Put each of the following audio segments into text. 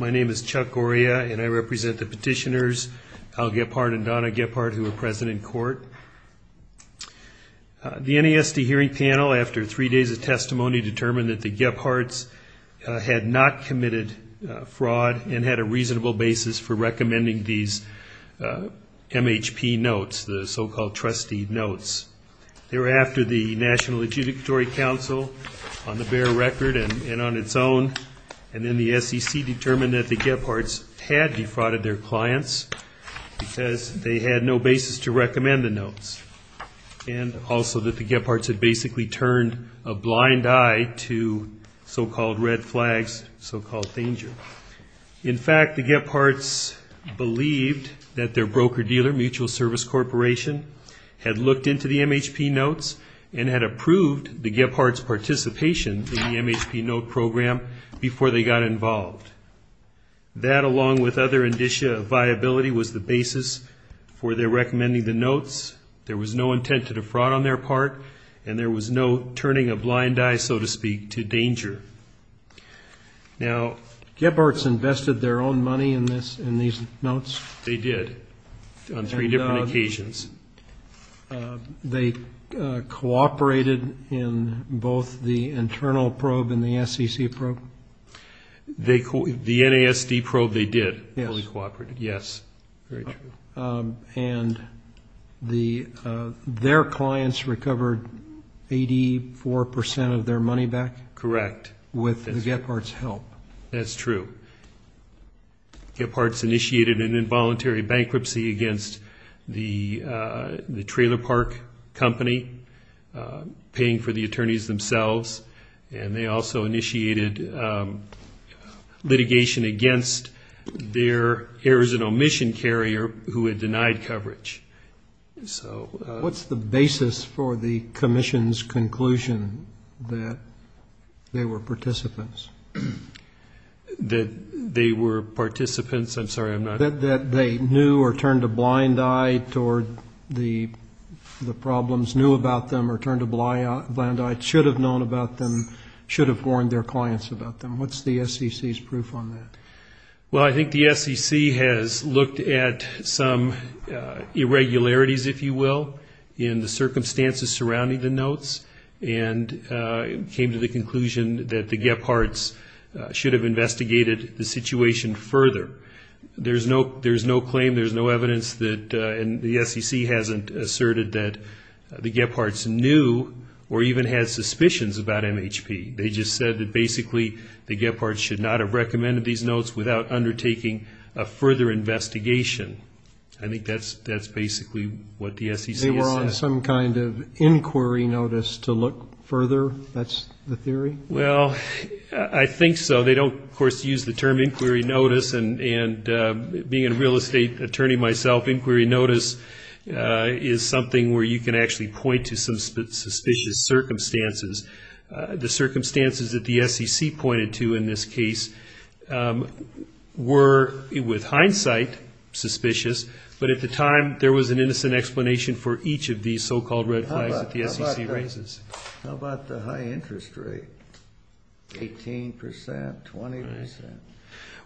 My name is Chuck Goria and I represent the petitioners, Al Gephart and Donna Gephart, who are present in court. The NASD hearing panel, after three days of testimony, determined that the Gepharts had not committed fraud and had a reasonable basis for recommending these MHP notes, the so-called trustee notes. Thereafter, the National Legislatory Council, on the bare record and on its own, and then the SEC, determined that the Gepharts had defrauded their clients because they had no basis to recommend the notes, and also that the Gepharts had basically turned a blind eye to so-called red flags, so-called danger. In fact, the Gepharts believed that their broker-dealer, Mutual Service Corporation, had looked into the MHP notes and had approved the Gepharts' participation in the MHP note program before they got involved. That, along with other indicia of viability, was the basis for their recommending the notes. There was no intent to defraud on their part, and there was no turning a blind eye, so to speak, to danger. Now, Gepharts invested their own money in these notes? They did, on three different occasions. They cooperated in both the internal probe and the SEC probe? The NASD probe, they did fully cooperate, yes. Very true. And their clients recovered 84 percent of their money back? Correct. With the Gepharts' help? That's true. Gepharts initiated an involuntary bankruptcy against the trailer park company, paying for the attorneys themselves. And they also initiated litigation against their Arizona Mission carrier, who had denied coverage. What's the basis for the commission's conclusion that they were participants? That they were participants? I'm sorry, I'm not... That they knew or turned a blind eye toward the problems, knew about them or turned a blind eye, should have known about them, should have warned their clients about them. What's the SEC's proof on that? They made some irregularities, if you will, in the circumstances surrounding the notes and came to the conclusion that the Gepharts should have investigated the situation further. There's no claim, there's no evidence that the SEC hasn't asserted that the Gepharts knew or even had suspicions about MHP. They just said that basically the Gepharts should not have recommended these notes without undertaking a further investigation. I think that's basically what the SEC has said. They were on some kind of inquiry notice to look further, that's the theory? Well, I think so. They don't, of course, use the term inquiry notice. And being a real estate attorney myself, inquiry notice is something where you can actually point to some suspicious circumstances. The circumstances that the SEC pointed to in this case were, with hindsight, suspicious circumstances. But at the time, there was an innocent explanation for each of these so-called red flags that the SEC raises. How about the high interest rate, 18 percent, 20 percent?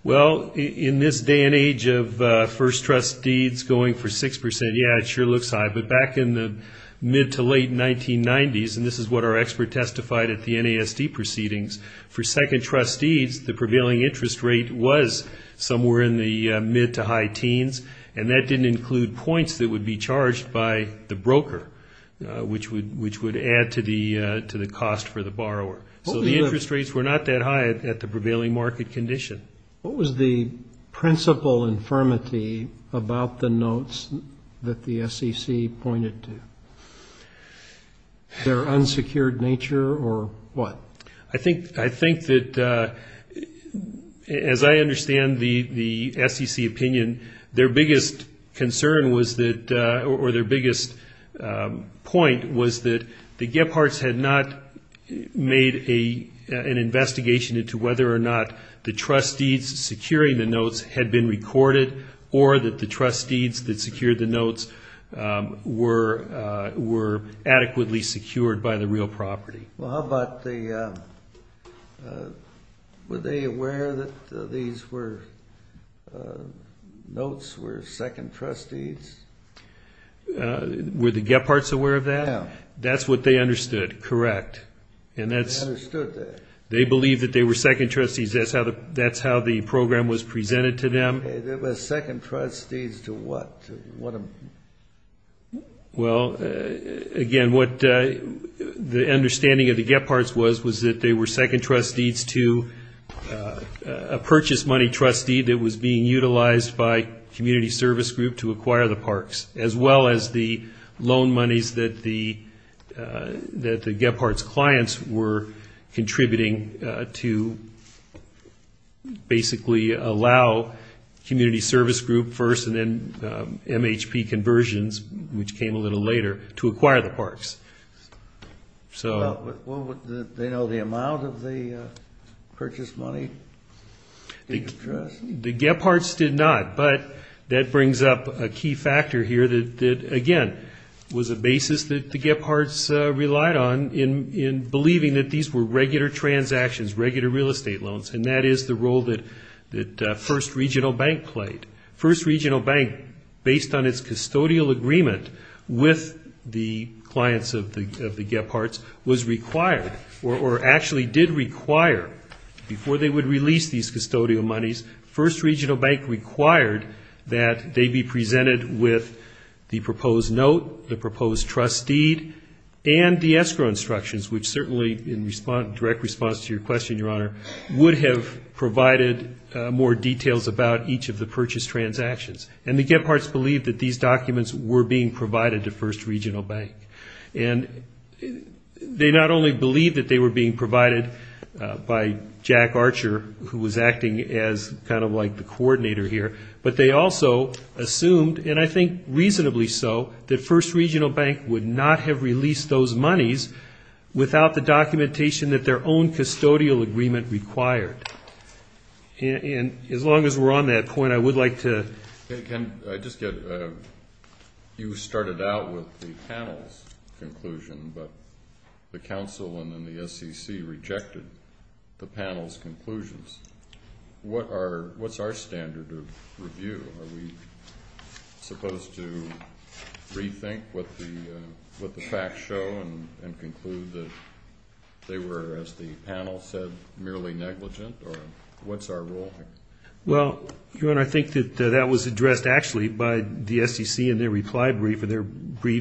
Well, in this day and age of first trustees going for 6 percent, yeah, it sure looks high. But back in the mid to late 1990s, and this is what our expert testified at the NASD proceedings, for second trustees, the prevailing interest rate was somewhere in the mid to high teens. And that didn't include points that would be charged by the broker, which would add to the cost for the borrower. So the interest rates were not that high at the prevailing market condition. What was the principal infirmity about the notes that the SEC pointed to? Their unsecured nature or what? I think that, as I understand the SEC opinion, their biggest concern was that, or their biggest point was that the Gepharts had not made an investigation into whether or not the trustees securing the notes had been recorded, or that the trustees that secured the notes were adequately secured by the real property. Well, how about the, were they aware that these notes were second trustees? Were the Gepharts aware of that? No. That's what they understood, correct. They understood that. They were second trustees to what? Well, again, what the understanding of the Gepharts was, was that they were second trustees to a purchase money trustee that was being utilized by community service group to acquire the parks, as well as the loan monies that the Gepharts clients had. The clients were contributing to basically allow community service group first, and then MHP conversions, which came a little later, to acquire the parks. Well, did they know the amount of the purchase money? The Gepharts did not. But that brings up a key factor here that, again, was a basis that the Gepharts relied on in believing that these were regular transactions, regular real estate loans, and that is the role that First Regional Bank played. First Regional Bank, based on its custodial agreement with the clients of the Gepharts, was required, or actually did require, before they would release these custodial monies, First Regional Bank required that they be presented with the proposed note, the proposed trust deed, and the escrow instructions, which certainly, in direct response to your question, Your Honor, would have provided more details about each of the purchase transactions. And the Gepharts believed that these documents were being provided to First Regional Bank. And they not only believed that they were being provided by Jack Archer, who was acting as the first trustee, kind of like the coordinator here, but they also assumed, and I think reasonably so, that First Regional Bank would not have released those monies without the documentation that their own custodial agreement required. And as long as we're on that point, I would like to... You started out with the panel's conclusion, but the council and then the SEC rejected the panel's conclusions. What's our standard of review? Are we supposed to rethink what the facts show and conclude that they were, as the panel said, merely negligent, or what's our role here? Well, Your Honor, I think that that was addressed, actually, by the SEC in their reply brief. And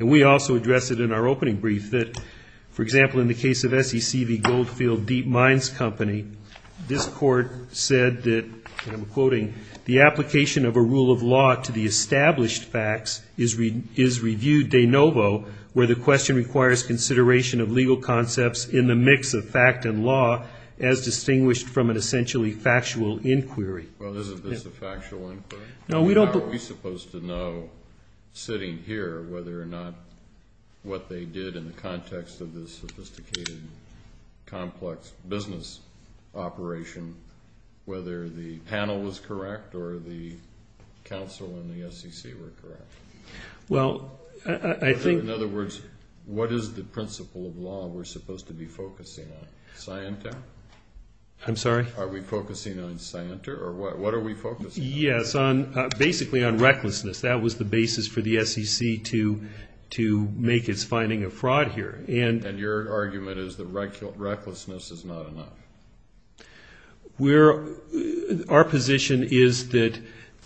we also addressed it in our opening brief, that, for example, in the case of SEC, the Goldfield Deep Mines Company, this court said that, and I'm quoting, the application of a rule of law to the established facts is reviewed de novo, where the question requires consideration of legal concepts in the mix of fact and law, as distinguished from an essentially factual inquiry. Well, isn't this a factual inquiry? How are we supposed to know, sitting here, whether or not what they did in the context of this sophisticated, complex business operation, whether the panel was correct or the council and the SEC were correct? In other words, what is the principle of law we're supposed to be focusing on? Scienter? I'm sorry? Are we focusing on scienter, or what are we focusing on? Yes, basically on recklessness. That was the basis for the SEC to make its finding of fraud here. And your argument is that recklessness is not enough? Our position is that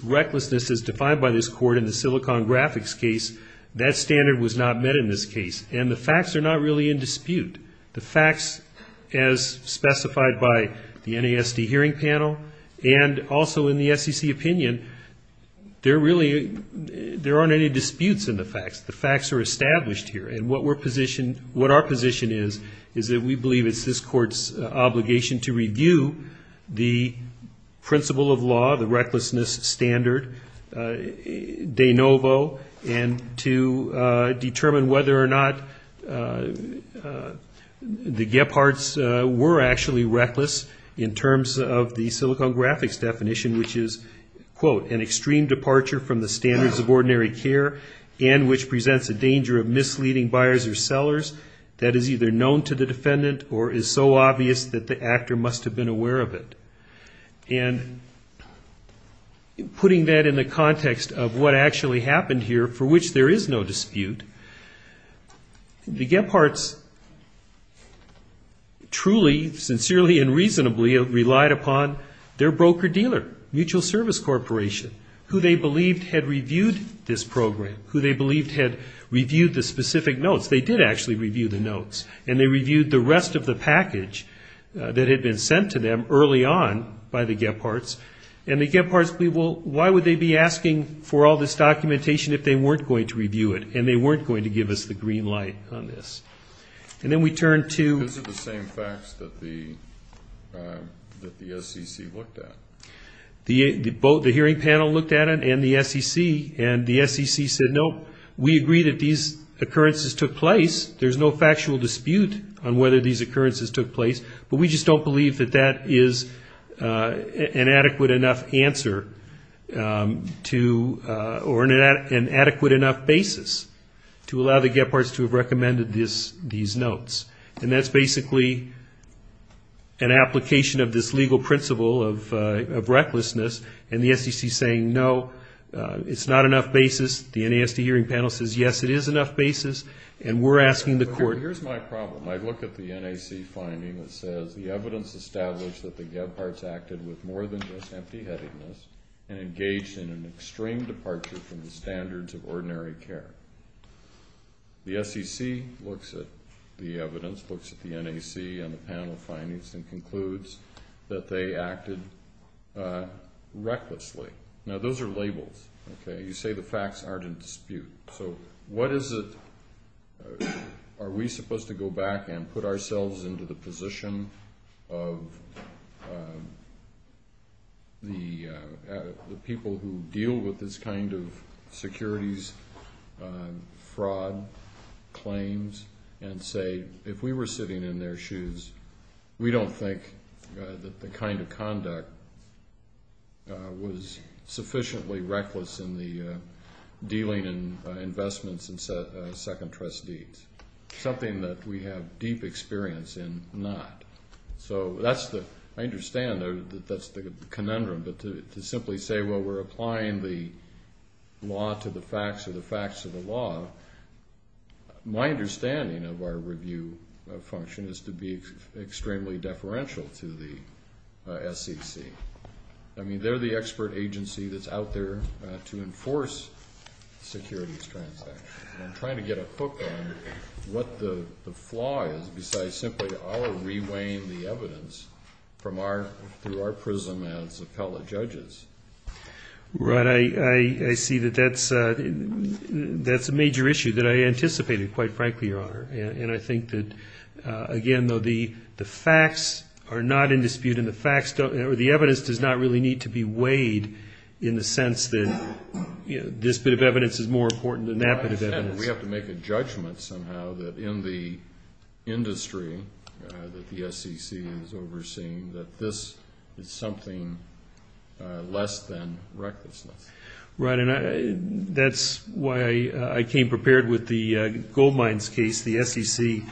recklessness is defined by this court in the Silicon Graphics case. That standard was not met in this case, and the facts are not really in dispute. The facts, as specified by the NASD hearing panel, and also in the SEC opinion, there aren't any disputes in the facts. The facts are established here, and what our position is, is that we believe it's this court's obligation to review the principle of law, the recklessness standard de novo, and to determine whether or not the Gepharts were actually reckless in terms of the Silicon Graphics definition, which is, quote, an extreme departure from the standards of ordinary care and which presents a danger of misleading buyers or sellers that is either known to the defendant or is so obvious that the actor must have been aware of it. And putting that in the context of what actually happened here, for which there is no dispute, the Gepharts truly, sincerely, and reasonably relied upon their broker-dealer, mutual service corporation, who they believed had reviewed this program, who they believed had reviewed the specific notes. They did actually review the notes, and they reviewed the rest of the package that had been sent to them early on by the Gepharts, and the Gepharts, well, why would they be asking for all this documentation if they weren't going to review it and they weren't going to give us the green light on this? And then we turn to... Nope, we agree that these occurrences took place. There's no factual dispute on whether these occurrences took place, but we just don't believe that that is an adequate enough answer to, or an adequate enough basis to allow the Gepharts to have recommended these notes. And that's basically an application of this legal principle of recklessness, and the SEC saying, no, it's not enough basis. The NASD hearing panel says, yes, it is enough basis, and we're asking the court... Here's my problem. I look at the NAC finding that says, the evidence established that the Gepharts acted with more than just empty-headedness and engaged in an extreme departure from the standards of ordinary care. The SEC looks at the evidence, looks at the NAC and the panel findings, and concludes that they acted recklessly. Now, those are labels, okay? You say the facts aren't in dispute. So what is it... Are we supposed to go back and put ourselves into the position of the people who deal with this kind of securities fraud claims and say, if we were sitting in their shoes, we don't think that the kind of conduct was sufficiently reckless in the dealing and investments in Second Trust deeds. Something that we have deep experience in not. So that's the... I understand that that's the conundrum, but to simply say, well, we're applying the law to the facts of the facts of the law, my understanding of our review function is to be extremely deferential to the SEC. I mean, they're the expert agency that's out there to enforce securities transactions. I'm trying to get a hook on what the flaw is, besides simply reweighing the evidence through our prism as appellate judges. Right. I see that that's a major issue that I anticipated, quite frankly, Your Honor. And I think that, again, though the facts are not in dispute and the evidence does not really need to be weighed in the sense that this bit of evidence is more important than that bit of evidence. We have to make a judgment somehow that in the industry that the SEC is overseeing, that this is something less than recklessness. Right. And that's why I came prepared with the gold mines case, the SEC,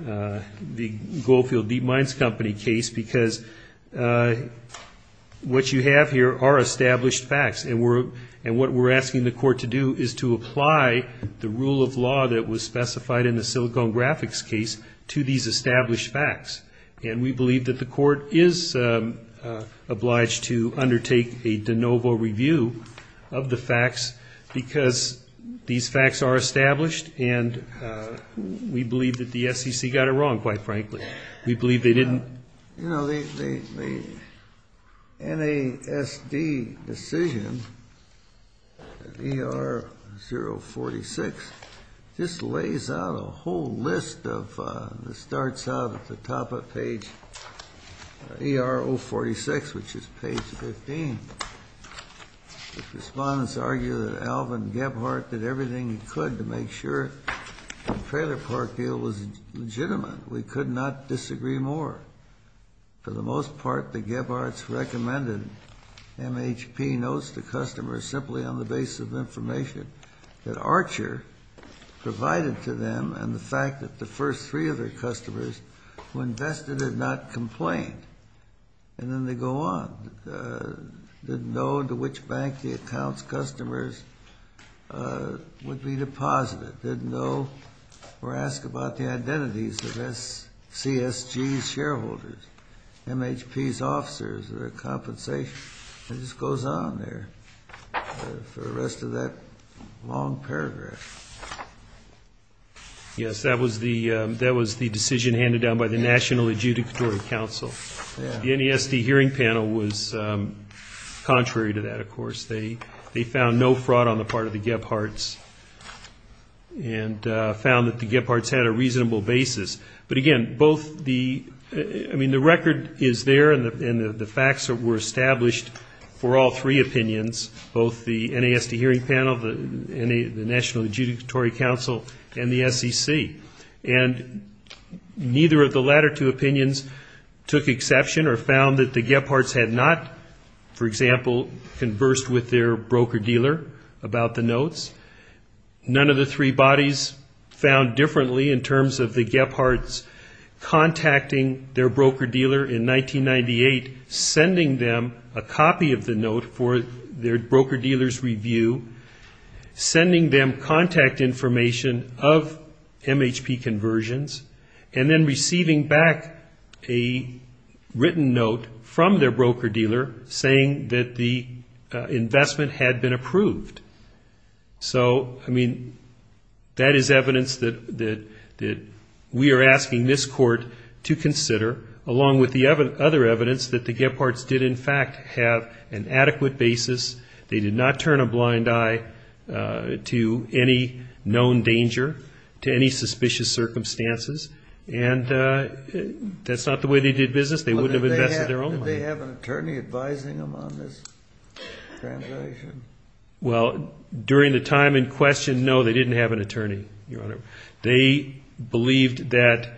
the Goldfield Deep Mines Company case, because what you have here are established facts. And what we're asking the court to do is to apply the rule of law that was specified in the Silicon Graphics case to these established facts. And we believe that the court is obliged to undertake a de novo review of the facts because these facts are established and we believe that the SEC got it wrong, quite frankly. We believe they didn't. You know, the NASD decision, ER-046, just lays out a whole list that starts out at the top of page ER-046, which is page 15. Respondents argue that Alvin Gebhardt did everything he could to make sure the trailer park deal was legitimate. We could not disagree more. For the most part, the Gebhardts recommended MHP notes to customers simply on the basis of information that Archer provided to them and the fact that the first three of their customers who invested had not complained. And then they go on. Didn't know to which bank the account's customers would be deposited. Didn't know or ask about the identities of CSG's shareholders, MHP's officers, their compensation. It just goes on there for the rest of that long paragraph. Yes, that was the decision handed down by the National Adjudicatory Council. The NASD hearing panel was contrary to that, of course. They found no fraud on the part of the Gebhardts and found that the Gebhardts had a reasonable basis. But, again, both the, I mean, the record is there and the facts were established for all three opinions, both the NASD hearing panel, the National Adjudicatory Council, and the SEC. And neither of the latter two opinions took exception or found that the Gebhardts had not, for example, conversed with their broker-dealer about the notes. None of the three bodies found differently in terms of the Gebhardts contacting their broker-dealer in 1998, sending them a copy of the note for their broker-dealer's review, sending them contact information of MHP conversions, and then receiving back a written note from their broker-dealer saying that the investment had been approved. So, I mean, that is evidence that we are asking this court to consider, along with the other evidence that the Gebhardts did, in fact, have an adequate basis. They did not turn a blind eye to any known danger, to any suspicious circumstances, and that's not the way they did business. They wouldn't have invested their own money. Did they have an attorney advising them on this transaction? Well, during the time in question, no, they didn't have an attorney, Your Honor. They believed that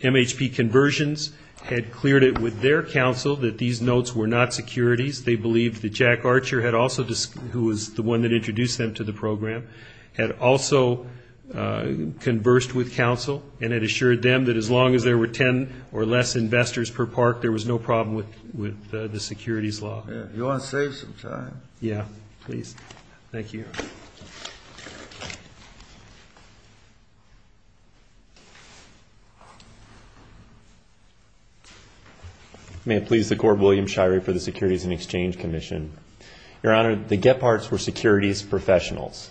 MHP conversions had cleared it with their counsel that these notes were not securities. They believed that Jack Archer, who was the one that introduced them to the program, had also conversed with counsel and had assured them that as long as there were ten or less investors per park, there was no problem with the securities law. You want to save some time. Thank you, Your Honor. May it please the Court, William Shirey for the Securities and Exchange Commission. Your Honor, the Gebhardts were securities professionals.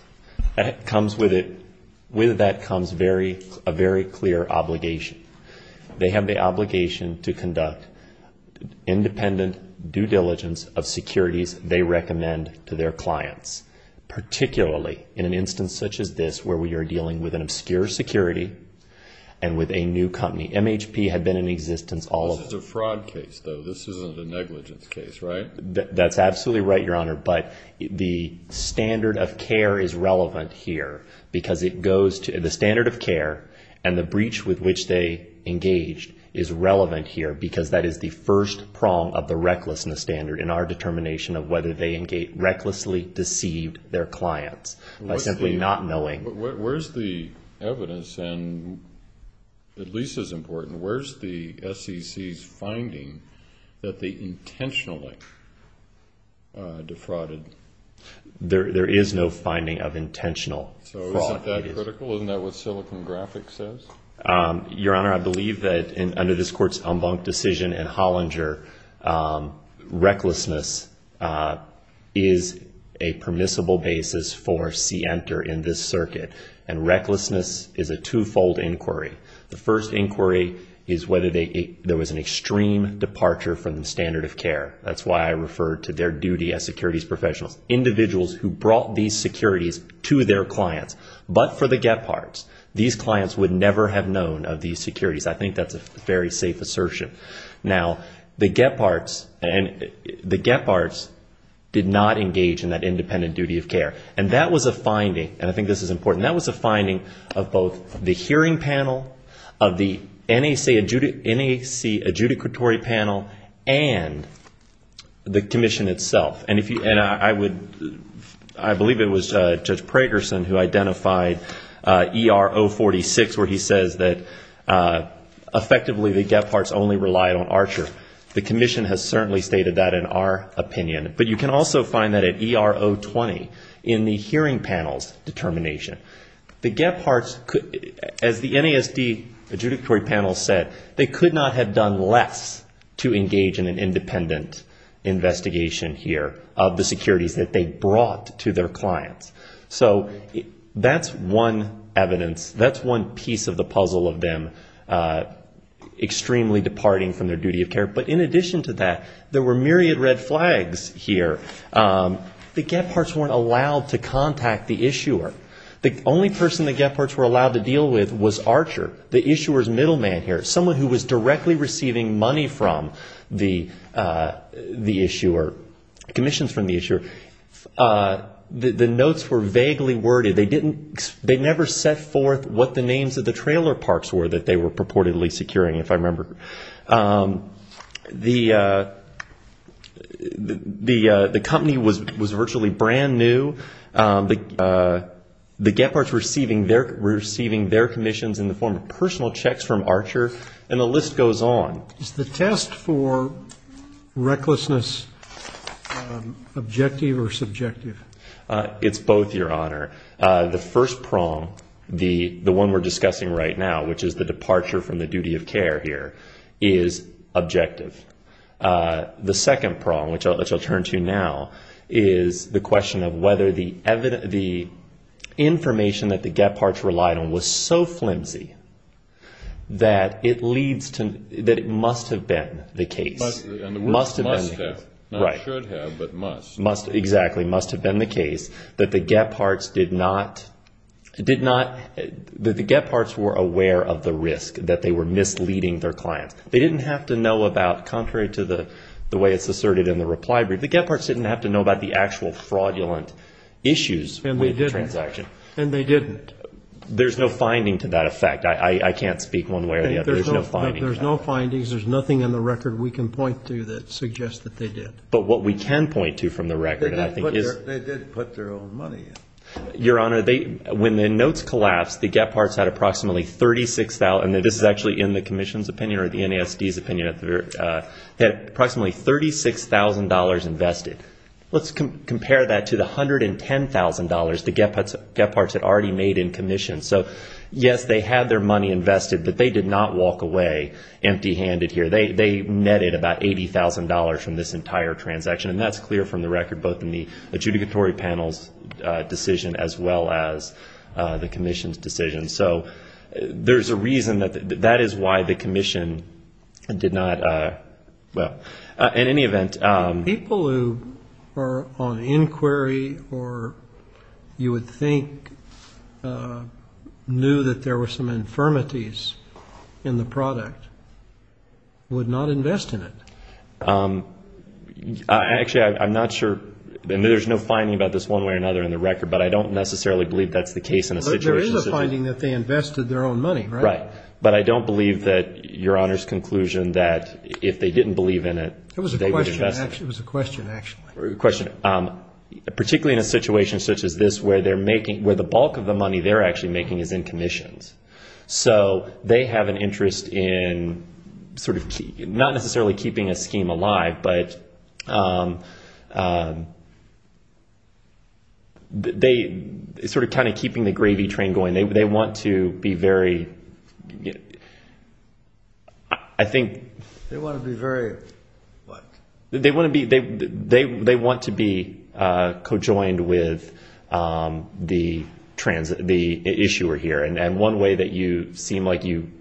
With that comes a very clear obligation. They have the obligation to conduct independent due diligence of securities they recommend to their clients, particularly in an instance such as this where we are dealing with an obscure security and with a new company. MHP had been in existence all of the time. This is a fraud case, though. This isn't a negligence case, right? That's absolutely right, Your Honor. But the standard of care is relevant here because it goes to the standard of care, and the breach with which they engaged is relevant here because that is the first prong of the recklessness standard in our determination of whether they recklessly deceived their clients by simply not knowing. Where's the evidence, and at least as important, where's the SEC's finding that they intentionally defrauded? There is no finding of intentional fraud. So isn't that critical? Isn't that what Silicon Graphic says? Your Honor, I believe that under this Court's Embank decision in Hollinger, recklessness is a permissible basis for see-enter in this circuit, and recklessness is a twofold inquiry. The first inquiry is whether there was an extreme departure from the standard of care. That's why I refer to their duty as securities professionals. Individuals who brought these securities to their clients but for the Gebhardts, these clients would never have known of these securities. I think that's a very safe assertion. Now, the Gebhardts did not engage in that independent duty of care, and that was a finding, and I think this is important, that was a finding of both the hearing panel, of the NAC adjudicatory panel, and the Commission itself. And I believe it was Judge Pragerson who identified ER 046, where he says that effectively the Gebhardts only relied on Archer. The Commission has certainly stated that in our opinion. But you can also find that at ER 020 in the hearing panel's determination. The Gebhardts, as the NASD adjudicatory panel said, they could not have done less to engage in an independent investigation here of the securities that they brought to their clients. So that's one evidence, that's one piece of the puzzle of them extremely departing from their duty of care. But in addition to that, there were myriad red flags here. The Gebhardts weren't allowed to contact the issuer. The only person the Gebhardts were allowed to deal with was Archer, the issuer's middleman here. Someone who was directly receiving money from the issuer, commissions from the issuer. The notes were vaguely worded. They never set forth what the names of the trailer parks were that they were purportedly securing, if I remember. The company was virtually brand new. The Gebhardts were receiving their commissions in the form of personal checks from Archer, and the list goes on. Is the test for recklessness objective or subjective? It's both, Your Honor. The first prong, the one we're discussing right now, which is the departure from the duty of care here, is objective. The second prong, which I'll turn to now, is the question of whether the information that the Gebhardts relied on was so flimsy that it must have been the case. And the word must have, not should have, but must. Exactly, must have been the case, that the Gebhardts were aware of the risk, that they were misleading their clients. They didn't have to know about, contrary to the way it's asserted in the reply brief, the Gebhardts didn't have to know about the actual fraudulent issues with the transaction. And they didn't. There's no finding to that effect. I can't speak one way or the other. There's no finding. There's no findings. There's nothing in the record we can point to that suggests that they did. But what we can point to from the record, I think, is they did put their own money in. Your Honor, when the notes collapsed, the Gebhardts had approximately $36,000, and this is actually in the Commission's opinion or the NASD's opinion, they had approximately $36,000 invested. Let's compare that to the $110,000 the Gebhardts had already made in commission. So, yes, they had their money invested, but they did not walk away empty-handed here. They netted about $80,000 from this entire transaction, and that's clear from the record both in the adjudicatory panel's decision as well as the Commission's decision. So there's a reason that that is why the Commission did not, well, in any event. People who are on inquiry or you would think knew that there were some infirmities in the product would not invest in it. Actually, I'm not sure, and there's no finding about this one way or another in the record, but I don't necessarily believe that's the case in the situation. But there is a finding that they invested their own money, right? Right. But I don't believe that Your Honor's conclusion that if they didn't believe in it, they would invest it. It was a question, actually. Particularly in a situation such as this where the bulk of the money they're actually making is in commissions. So they have an interest in sort of not necessarily keeping a scheme alive, but sort of kind of keeping the gravy train going. And they want to be very, I think. They want to be very what? They want to be co-joined with the issuer here. And one way that you seem like you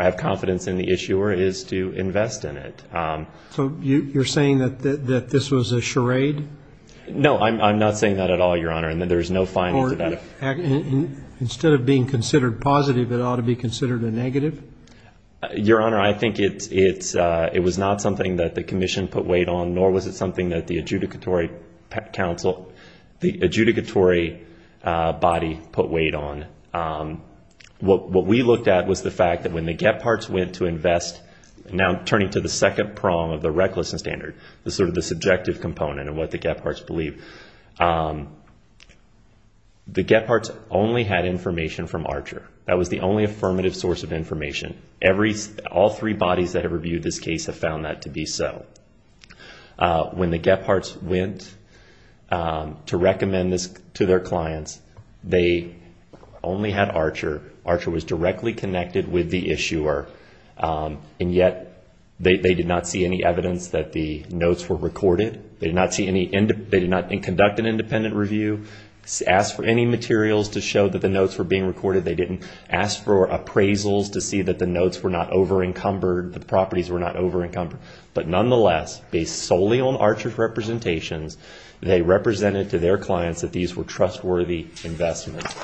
have confidence in the issuer is to invest in it. So you're saying that this was a charade? No, I'm not saying that at all, Your Honor. Instead of being considered positive, it ought to be considered a negative? Your Honor, I think it was not something that the commission put weight on, nor was it something that the adjudicatory body put weight on. What we looked at was the fact that when the Gepharts went to invest, now turning to the second prong of the recklessness standard, the sort of the subjective component of what the Gepharts believe, the Gepharts only had information from Archer. That was the only affirmative source of information. All three bodies that have reviewed this case have found that to be so. When the Gepharts went to recommend this to their clients, they only had Archer. Archer was directly connected with the issuer, and yet they did not see any evidence that the notes were recorded. They did not conduct an independent review, ask for any materials to show that the notes were being recorded. They didn't ask for appraisals to see that the notes were not over-encumbered, the properties were not over-encumbered. But nonetheless, based solely on Archer's representations, they represented to their clients that these were trustworthy investments.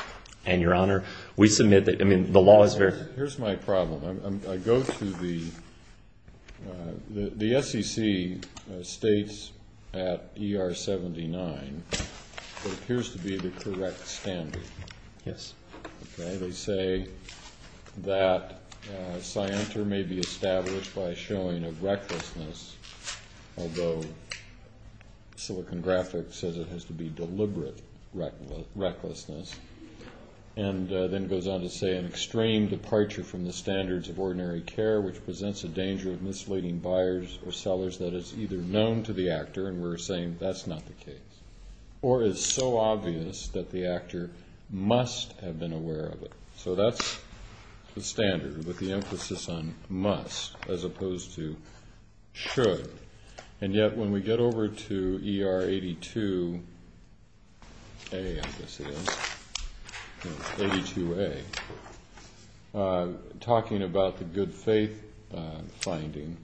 And, Your Honor, we submit that the law is very clear. Here's my problem. I go to the SEC states at ER 79, what appears to be the correct standard. Yes. Okay. They say that scienter may be established by showing a recklessness, although Silicon Graphic says it has to be deliberate recklessness, and then goes on to say an extreme departure from the standards of ordinary care, which presents a danger of misleading buyers or sellers that is either known to the actor, and we're saying that's not the case, or is so obvious that the actor must have been aware of it. So that's the standard with the emphasis on must as opposed to should. And yet when we get over to ER 82A, I guess it is, 82A, talking about the good faith finding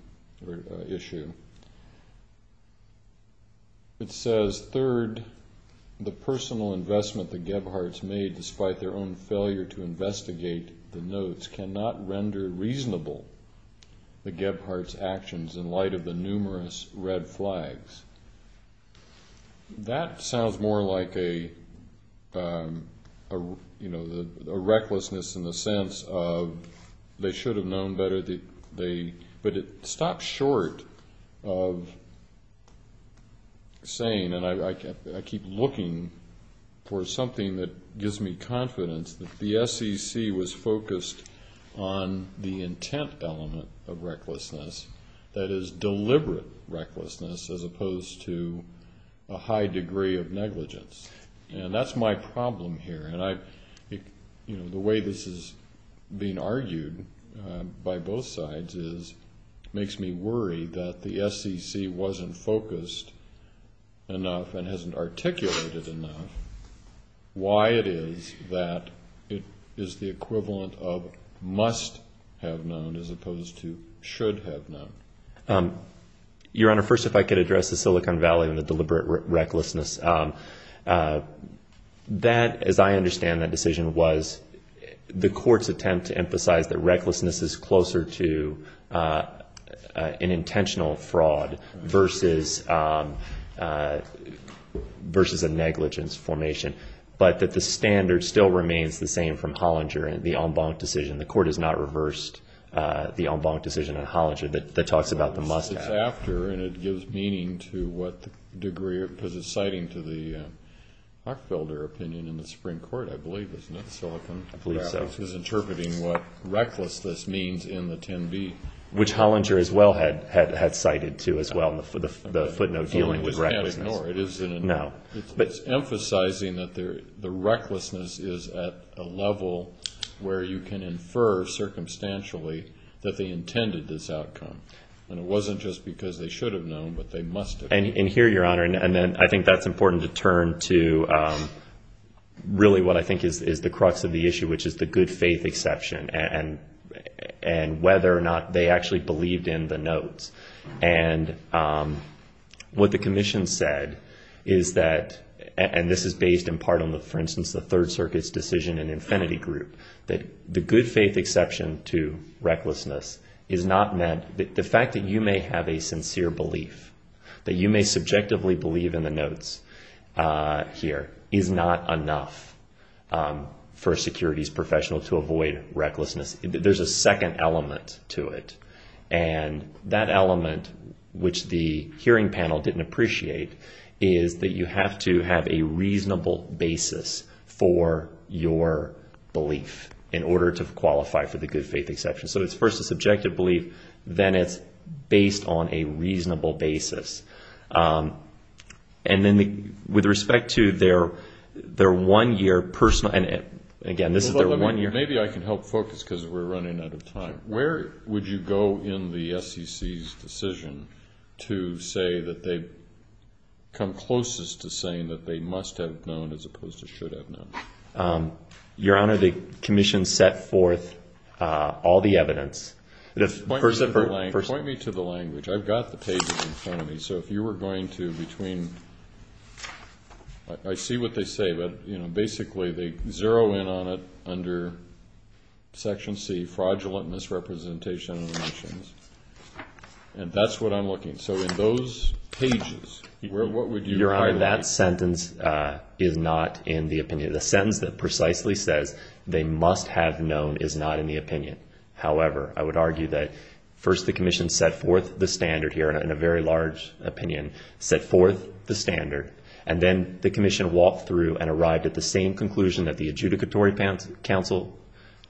or issue, it says, third, the personal investment the Gebhards made despite their own failure to investigate the notes cannot render reasonable the Gebhards' actions in light of the numerous red flags. That sounds more like a recklessness in the sense of they should have known better, but it stops short of saying, and I keep looking for something that gives me confidence, that the SEC was focused on the intent element of recklessness, that is deliberate recklessness as opposed to a high degree of negligence. And that's my problem here. And the way this is being argued by both sides makes me worry that the SEC wasn't focused enough and hasn't articulated enough why it is that it is the equivalent of must have known as opposed to should have known. Your Honor, first if I could address the Silicon Valley and the deliberate recklessness. That, as I understand that decision, was the court's attempt to emphasize that recklessness is closer to an intentional fraud versus a negligence formation, but that the standard still remains the same from Hollinger and the Ombank decision. The court has not reversed the Ombank decision on Hollinger that talks about the must have. It's after and it gives meaning to what degree, because it's citing to the Hockfelder opinion in the Supreme Court, I believe, isn't it, Silicon Valley? I believe so. Because it's interpreting what recklessness means in the 10B. Which Hollinger as well had cited to as well in the footnote dealing with recklessness. No. It's emphasizing that the recklessness is at a level where you can infer circumstantially that they intended this outcome. And it wasn't just because they should have known, but they must have known. And here, Your Honor, and then I think that's important to turn to really what I think is the crux of the issue, which is the good faith exception and whether or not they actually believed in the notes. And what the commission said is that, and this is based in part on, for instance, the Third Circuit's decision in Infinity Group, that the good faith exception to recklessness is not meant, the fact that you may have a sincere belief, that you may subjectively believe in the notes here, is not enough for a securities professional to avoid recklessness. There's a second element to it. And that element, which the hearing panel didn't appreciate, is that you have to have a reasonable basis for your belief in order to qualify for the good faith exception. So it's first a subjective belief, then it's based on a reasonable basis. And then with respect to their one-year personal, and again, this is their one-year. Maybe I can help focus because we're running out of time. Where would you go in the SEC's decision to say that they've come closest to saying that they must have known as opposed to should have known? Your Honor, the commission set forth all the evidence. Point me to the language. I've got the pages in front of me. So if you were going to, between, I see what they say, but, you know, basically they zero in on it under Section C, fraudulent misrepresentation of the mentions. And that's what I'm looking. So in those pages, what would you argue? Your Honor, that sentence is not in the opinion. The sentence that precisely says they must have known is not in the opinion. However, I would argue that first the commission set forth the standard here in a very large opinion, set forth the standard, and then the commission walked through and arrived at the same conclusion that the adjudicatory counsel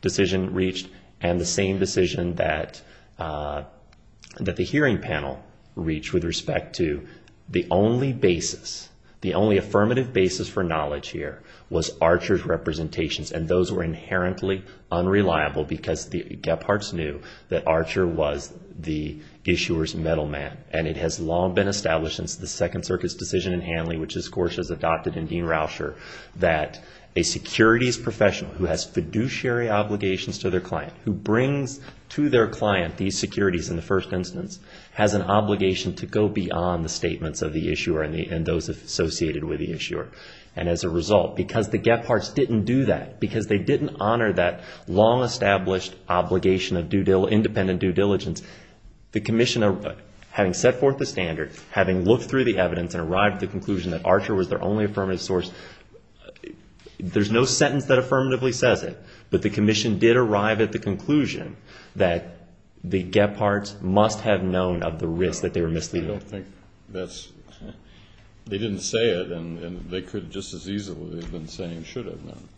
decision reached and the same decision that the hearing panel reached with respect to the only basis, the only affirmative basis for knowledge here was Archer's representations, and those were inherently unreliable because the Gepharts knew that Archer was the issuer's metal man, and it has long been established since the Second Circuit's decision in Hanley, which is of course as adopted in Dean Rauscher, that a securities professional who has fiduciary obligations to their client, who brings to their client these securities in the first instance, has an obligation to go beyond the statements of the issuer and those associated with the issuer. And as a result, because the Gepharts didn't do that, because they didn't honor that long-established obligation of independent due diligence, the commission, having set forth the standard, having looked through the evidence and arrived at the conclusion that Archer was their only affirmative source, there's no sentence that affirmatively says it, but the commission did arrive at the conclusion that the Gepharts must have known of the risk that they were misleading. I don't think that's ñ they didn't say it, and they could just as easily have been saying should have known,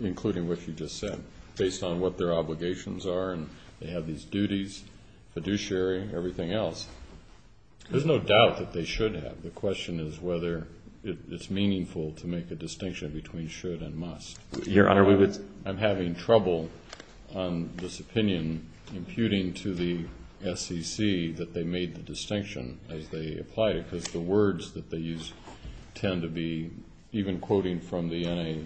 including what you just said, based on what their obligations are and they have these duties, fiduciary, everything else. There's no doubt that they should have. The question is whether it's meaningful to make a distinction between should and must. Your Honor, we would ñ I'm having trouble on this opinion imputing to the SEC that they made the distinction as they applied it, because the words that they used tend to be even quoting from the NAC.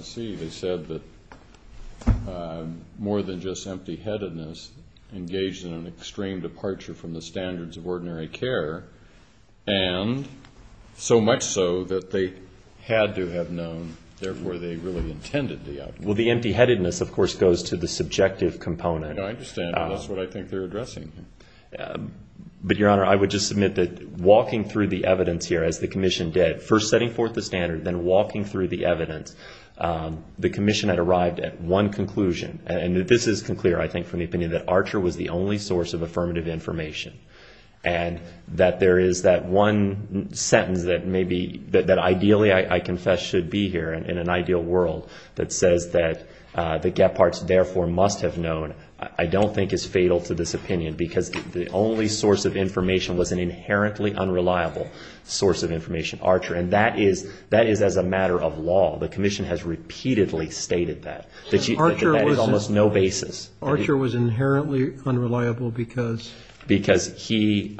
They said that more than just empty-headedness engaged in an extreme departure from the standards of ordinary care, and so much so that they had to have known, therefore, they really intended the outcome. Well, the empty-headedness, of course, goes to the subjective component. I understand, but that's what I think they're addressing here. But, Your Honor, I would just submit that walking through the evidence here as the commission did, first setting forth the standard, then walking through the evidence, the commission had arrived at one conclusion, and this is clear, I think, from the opinion that Archer was the only source of affirmative information, and that there is that one sentence that ideally, I confess, should be here in an ideal world, that says that the Gepharts, therefore, must have known, I don't think is fatal to this opinion, because the only source of information was an inherently unreliable source of information, Archer, and that is as a matter of law. The commission has repeatedly stated that. That is almost no basis. Archer was inherently unreliable because? Because he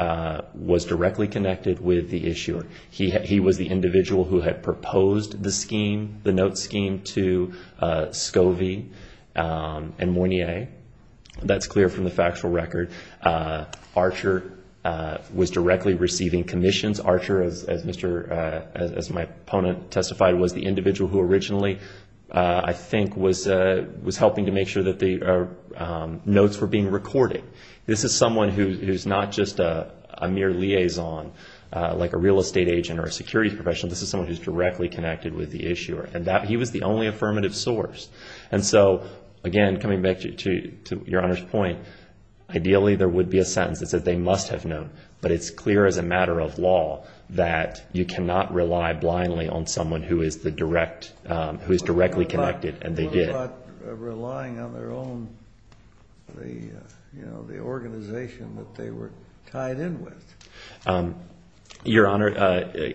was directly connected with the issuer. He was the individual who had proposed the scheme, the note scheme, to Scovey and Mornier. That's clear from the factual record. Archer was directly receiving commissions. Archer, as my opponent testified, was the individual who originally, I think, was helping to make sure that the notes were being recorded. This is someone who is not just a mere liaison, like a real estate agent or a security professional. This is someone who is directly connected with the issuer, and he was the only affirmative source. And so, again, coming back to Your Honor's point, ideally there would be a sentence that said they must have known, but it's clear as a matter of law that you cannot rely blindly on someone who is the direct, who is directly connected, and they did. They're not relying on their own, the organization that they were tied in with. Your Honor,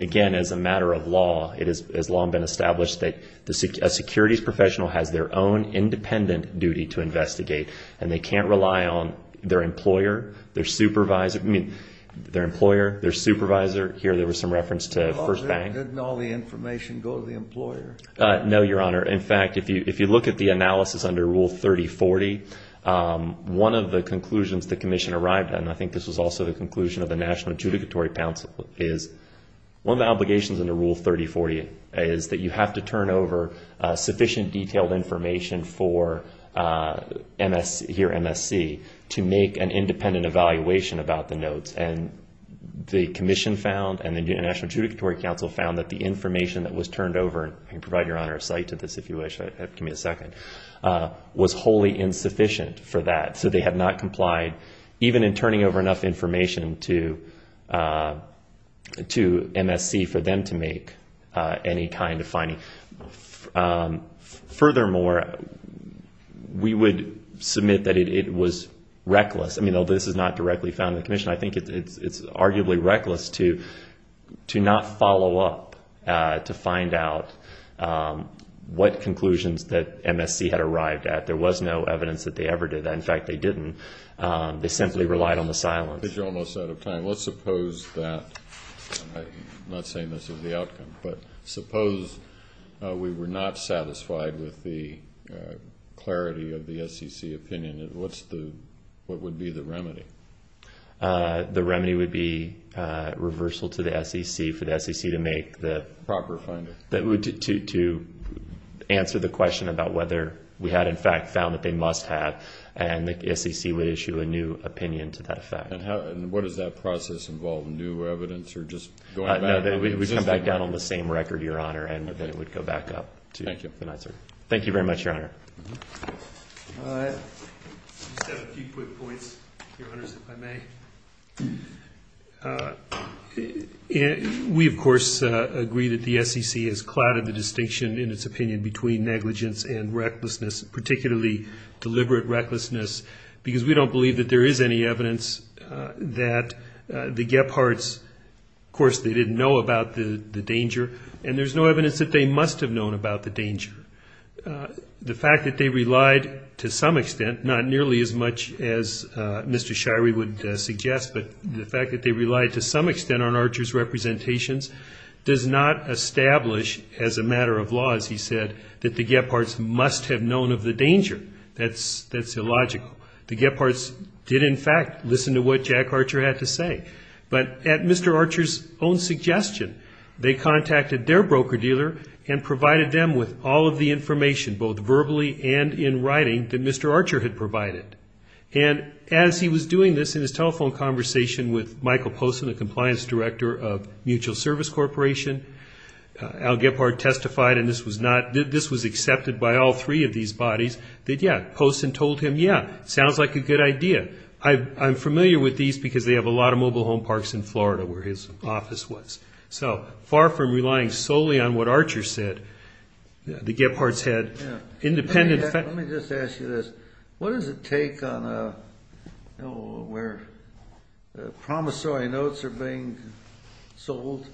again, as a matter of law, it has long been established that a securities professional has their own independent duty to investigate, and they can't rely on their employer, their supervisor. I mean, their employer, their supervisor. Here, there was some reference to First Bank. Didn't all the information go to the employer? No, Your Honor. In fact, if you look at the analysis under Rule 3040, one of the conclusions the Commission arrived at, and I think this was also the conclusion of the National Adjudicatory Council, is one of the obligations under Rule 3040 is that you have to turn over sufficient detailed information for MSC, to make an independent evaluation about the notes. And the Commission found, and the National Adjudicatory Council found, that the information that was turned over, and I can provide Your Honor a cite to this if you wish, give me a second, was wholly insufficient for that. So they had not complied, even in turning over enough information to MSC for them to make any kind of finding. Furthermore, we would submit that it was reckless. I mean, although this is not directly found in the Commission, I think it's arguably reckless to not follow up to find out what conclusions that MSC had arrived at. There was no evidence that they ever did that. In fact, they didn't. They simply relied on the silence. I think you're almost out of time. Let's suppose that, I'm not saying this is the outcome, but suppose we were not satisfied with the clarity of the SEC opinion. What would be the remedy? The remedy would be reversal to the SEC for the SEC to make the proper finding, to answer the question about whether we had, in fact, found that they must have, and the SEC would issue a new opinion to that effect. And what does that process involve, new evidence or just going back? It would come back down on the same record, Your Honor, and then it would go back up. Thank you. Thank you very much, Your Honor. I just have a few quick points, Your Honors, if I may. We, of course, agree that the SEC has clouded the distinction, in its opinion, between negligence and recklessness, particularly deliberate recklessness, because we don't believe that there is any evidence that the Gephards, of course, they didn't know about the danger, and there's no evidence that they must have known about the danger. The fact that they relied to some extent, not nearly as much as Mr. Shirey would suggest, but the fact that they relied to some extent on Archer's representations does not establish, as a matter of law, as he said, that the Gephards must have known of the danger. That's illogical. The Gephards did, in fact, listen to what Jack Archer had to say. But at Mr. Archer's own suggestion, they contacted their broker-dealer and provided them with all of the information, both verbally and in writing, that Mr. Archer had provided. And as he was doing this in his telephone conversation with Michael Poston, the compliance director of Mutual Service Corporation, Al Gephard testified, and this was accepted by all three of these bodies, that, yeah, Poston told him, yeah, sounds like a good idea. I'm familiar with these because they have a lot of mobile home parks in Florida, where his office was. So far from relying solely on what Archer said, the Gephards had independent... Let me just ask you this. What does it take on a, you know, where promissory notes are being sold?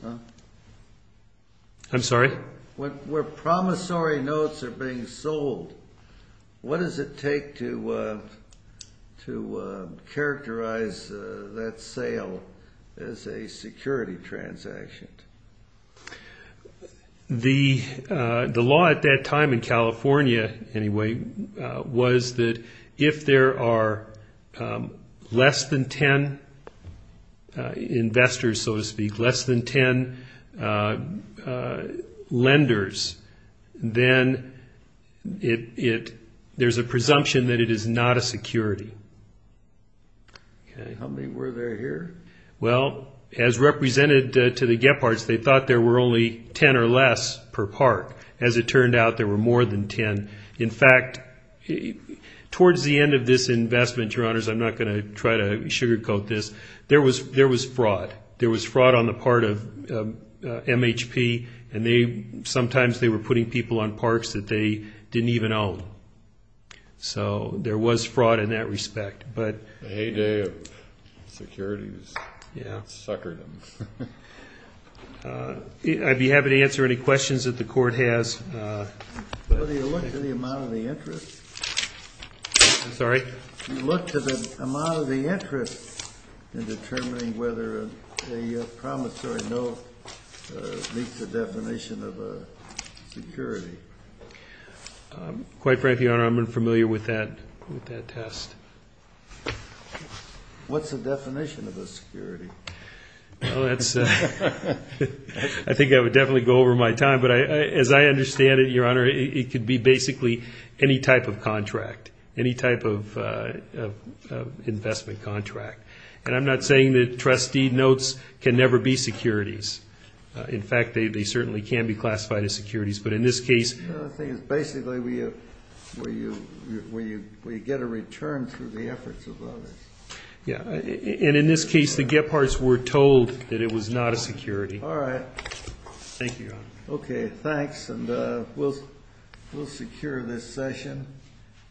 I'm sorry? Where promissory notes are being sold, what does it take to characterize that sale as a security transaction? The law at that time in California, anyway, was that if there are less than ten investors, so to speak, less than ten lenders, then there's a presumption that it is not a security. Okay. How many were there here? Well, as represented to the Gephards, they thought there were only ten or less per park. As it turned out, there were more than ten. In fact, towards the end of this investment, Your Honors, I'm not going to try to sugarcoat this, there was fraud. There was fraud on the part of MHP, and sometimes they were putting people on parks that they didn't even own. So there was fraud in that respect. The heyday of security has suckered them. I'd be happy to answer any questions that the Court has. Well, do you look to the amount of the interest? I'm sorry? A promissory note meets the definition of a security. Quite frankly, Your Honor, I'm unfamiliar with that test. What's the definition of a security? Well, I think I would definitely go over my time, but as I understand it, Your Honor, it could be basically any type of contract, any type of investment contract. And I'm not saying that trustee notes can never be securities. In fact, they certainly can be classified as securities. But in this case we get a return through the efforts of others. And in this case, the Gepharts were told that it was not a security. All right. Thank you, Your Honor. Okay, thanks. And we'll secure this session.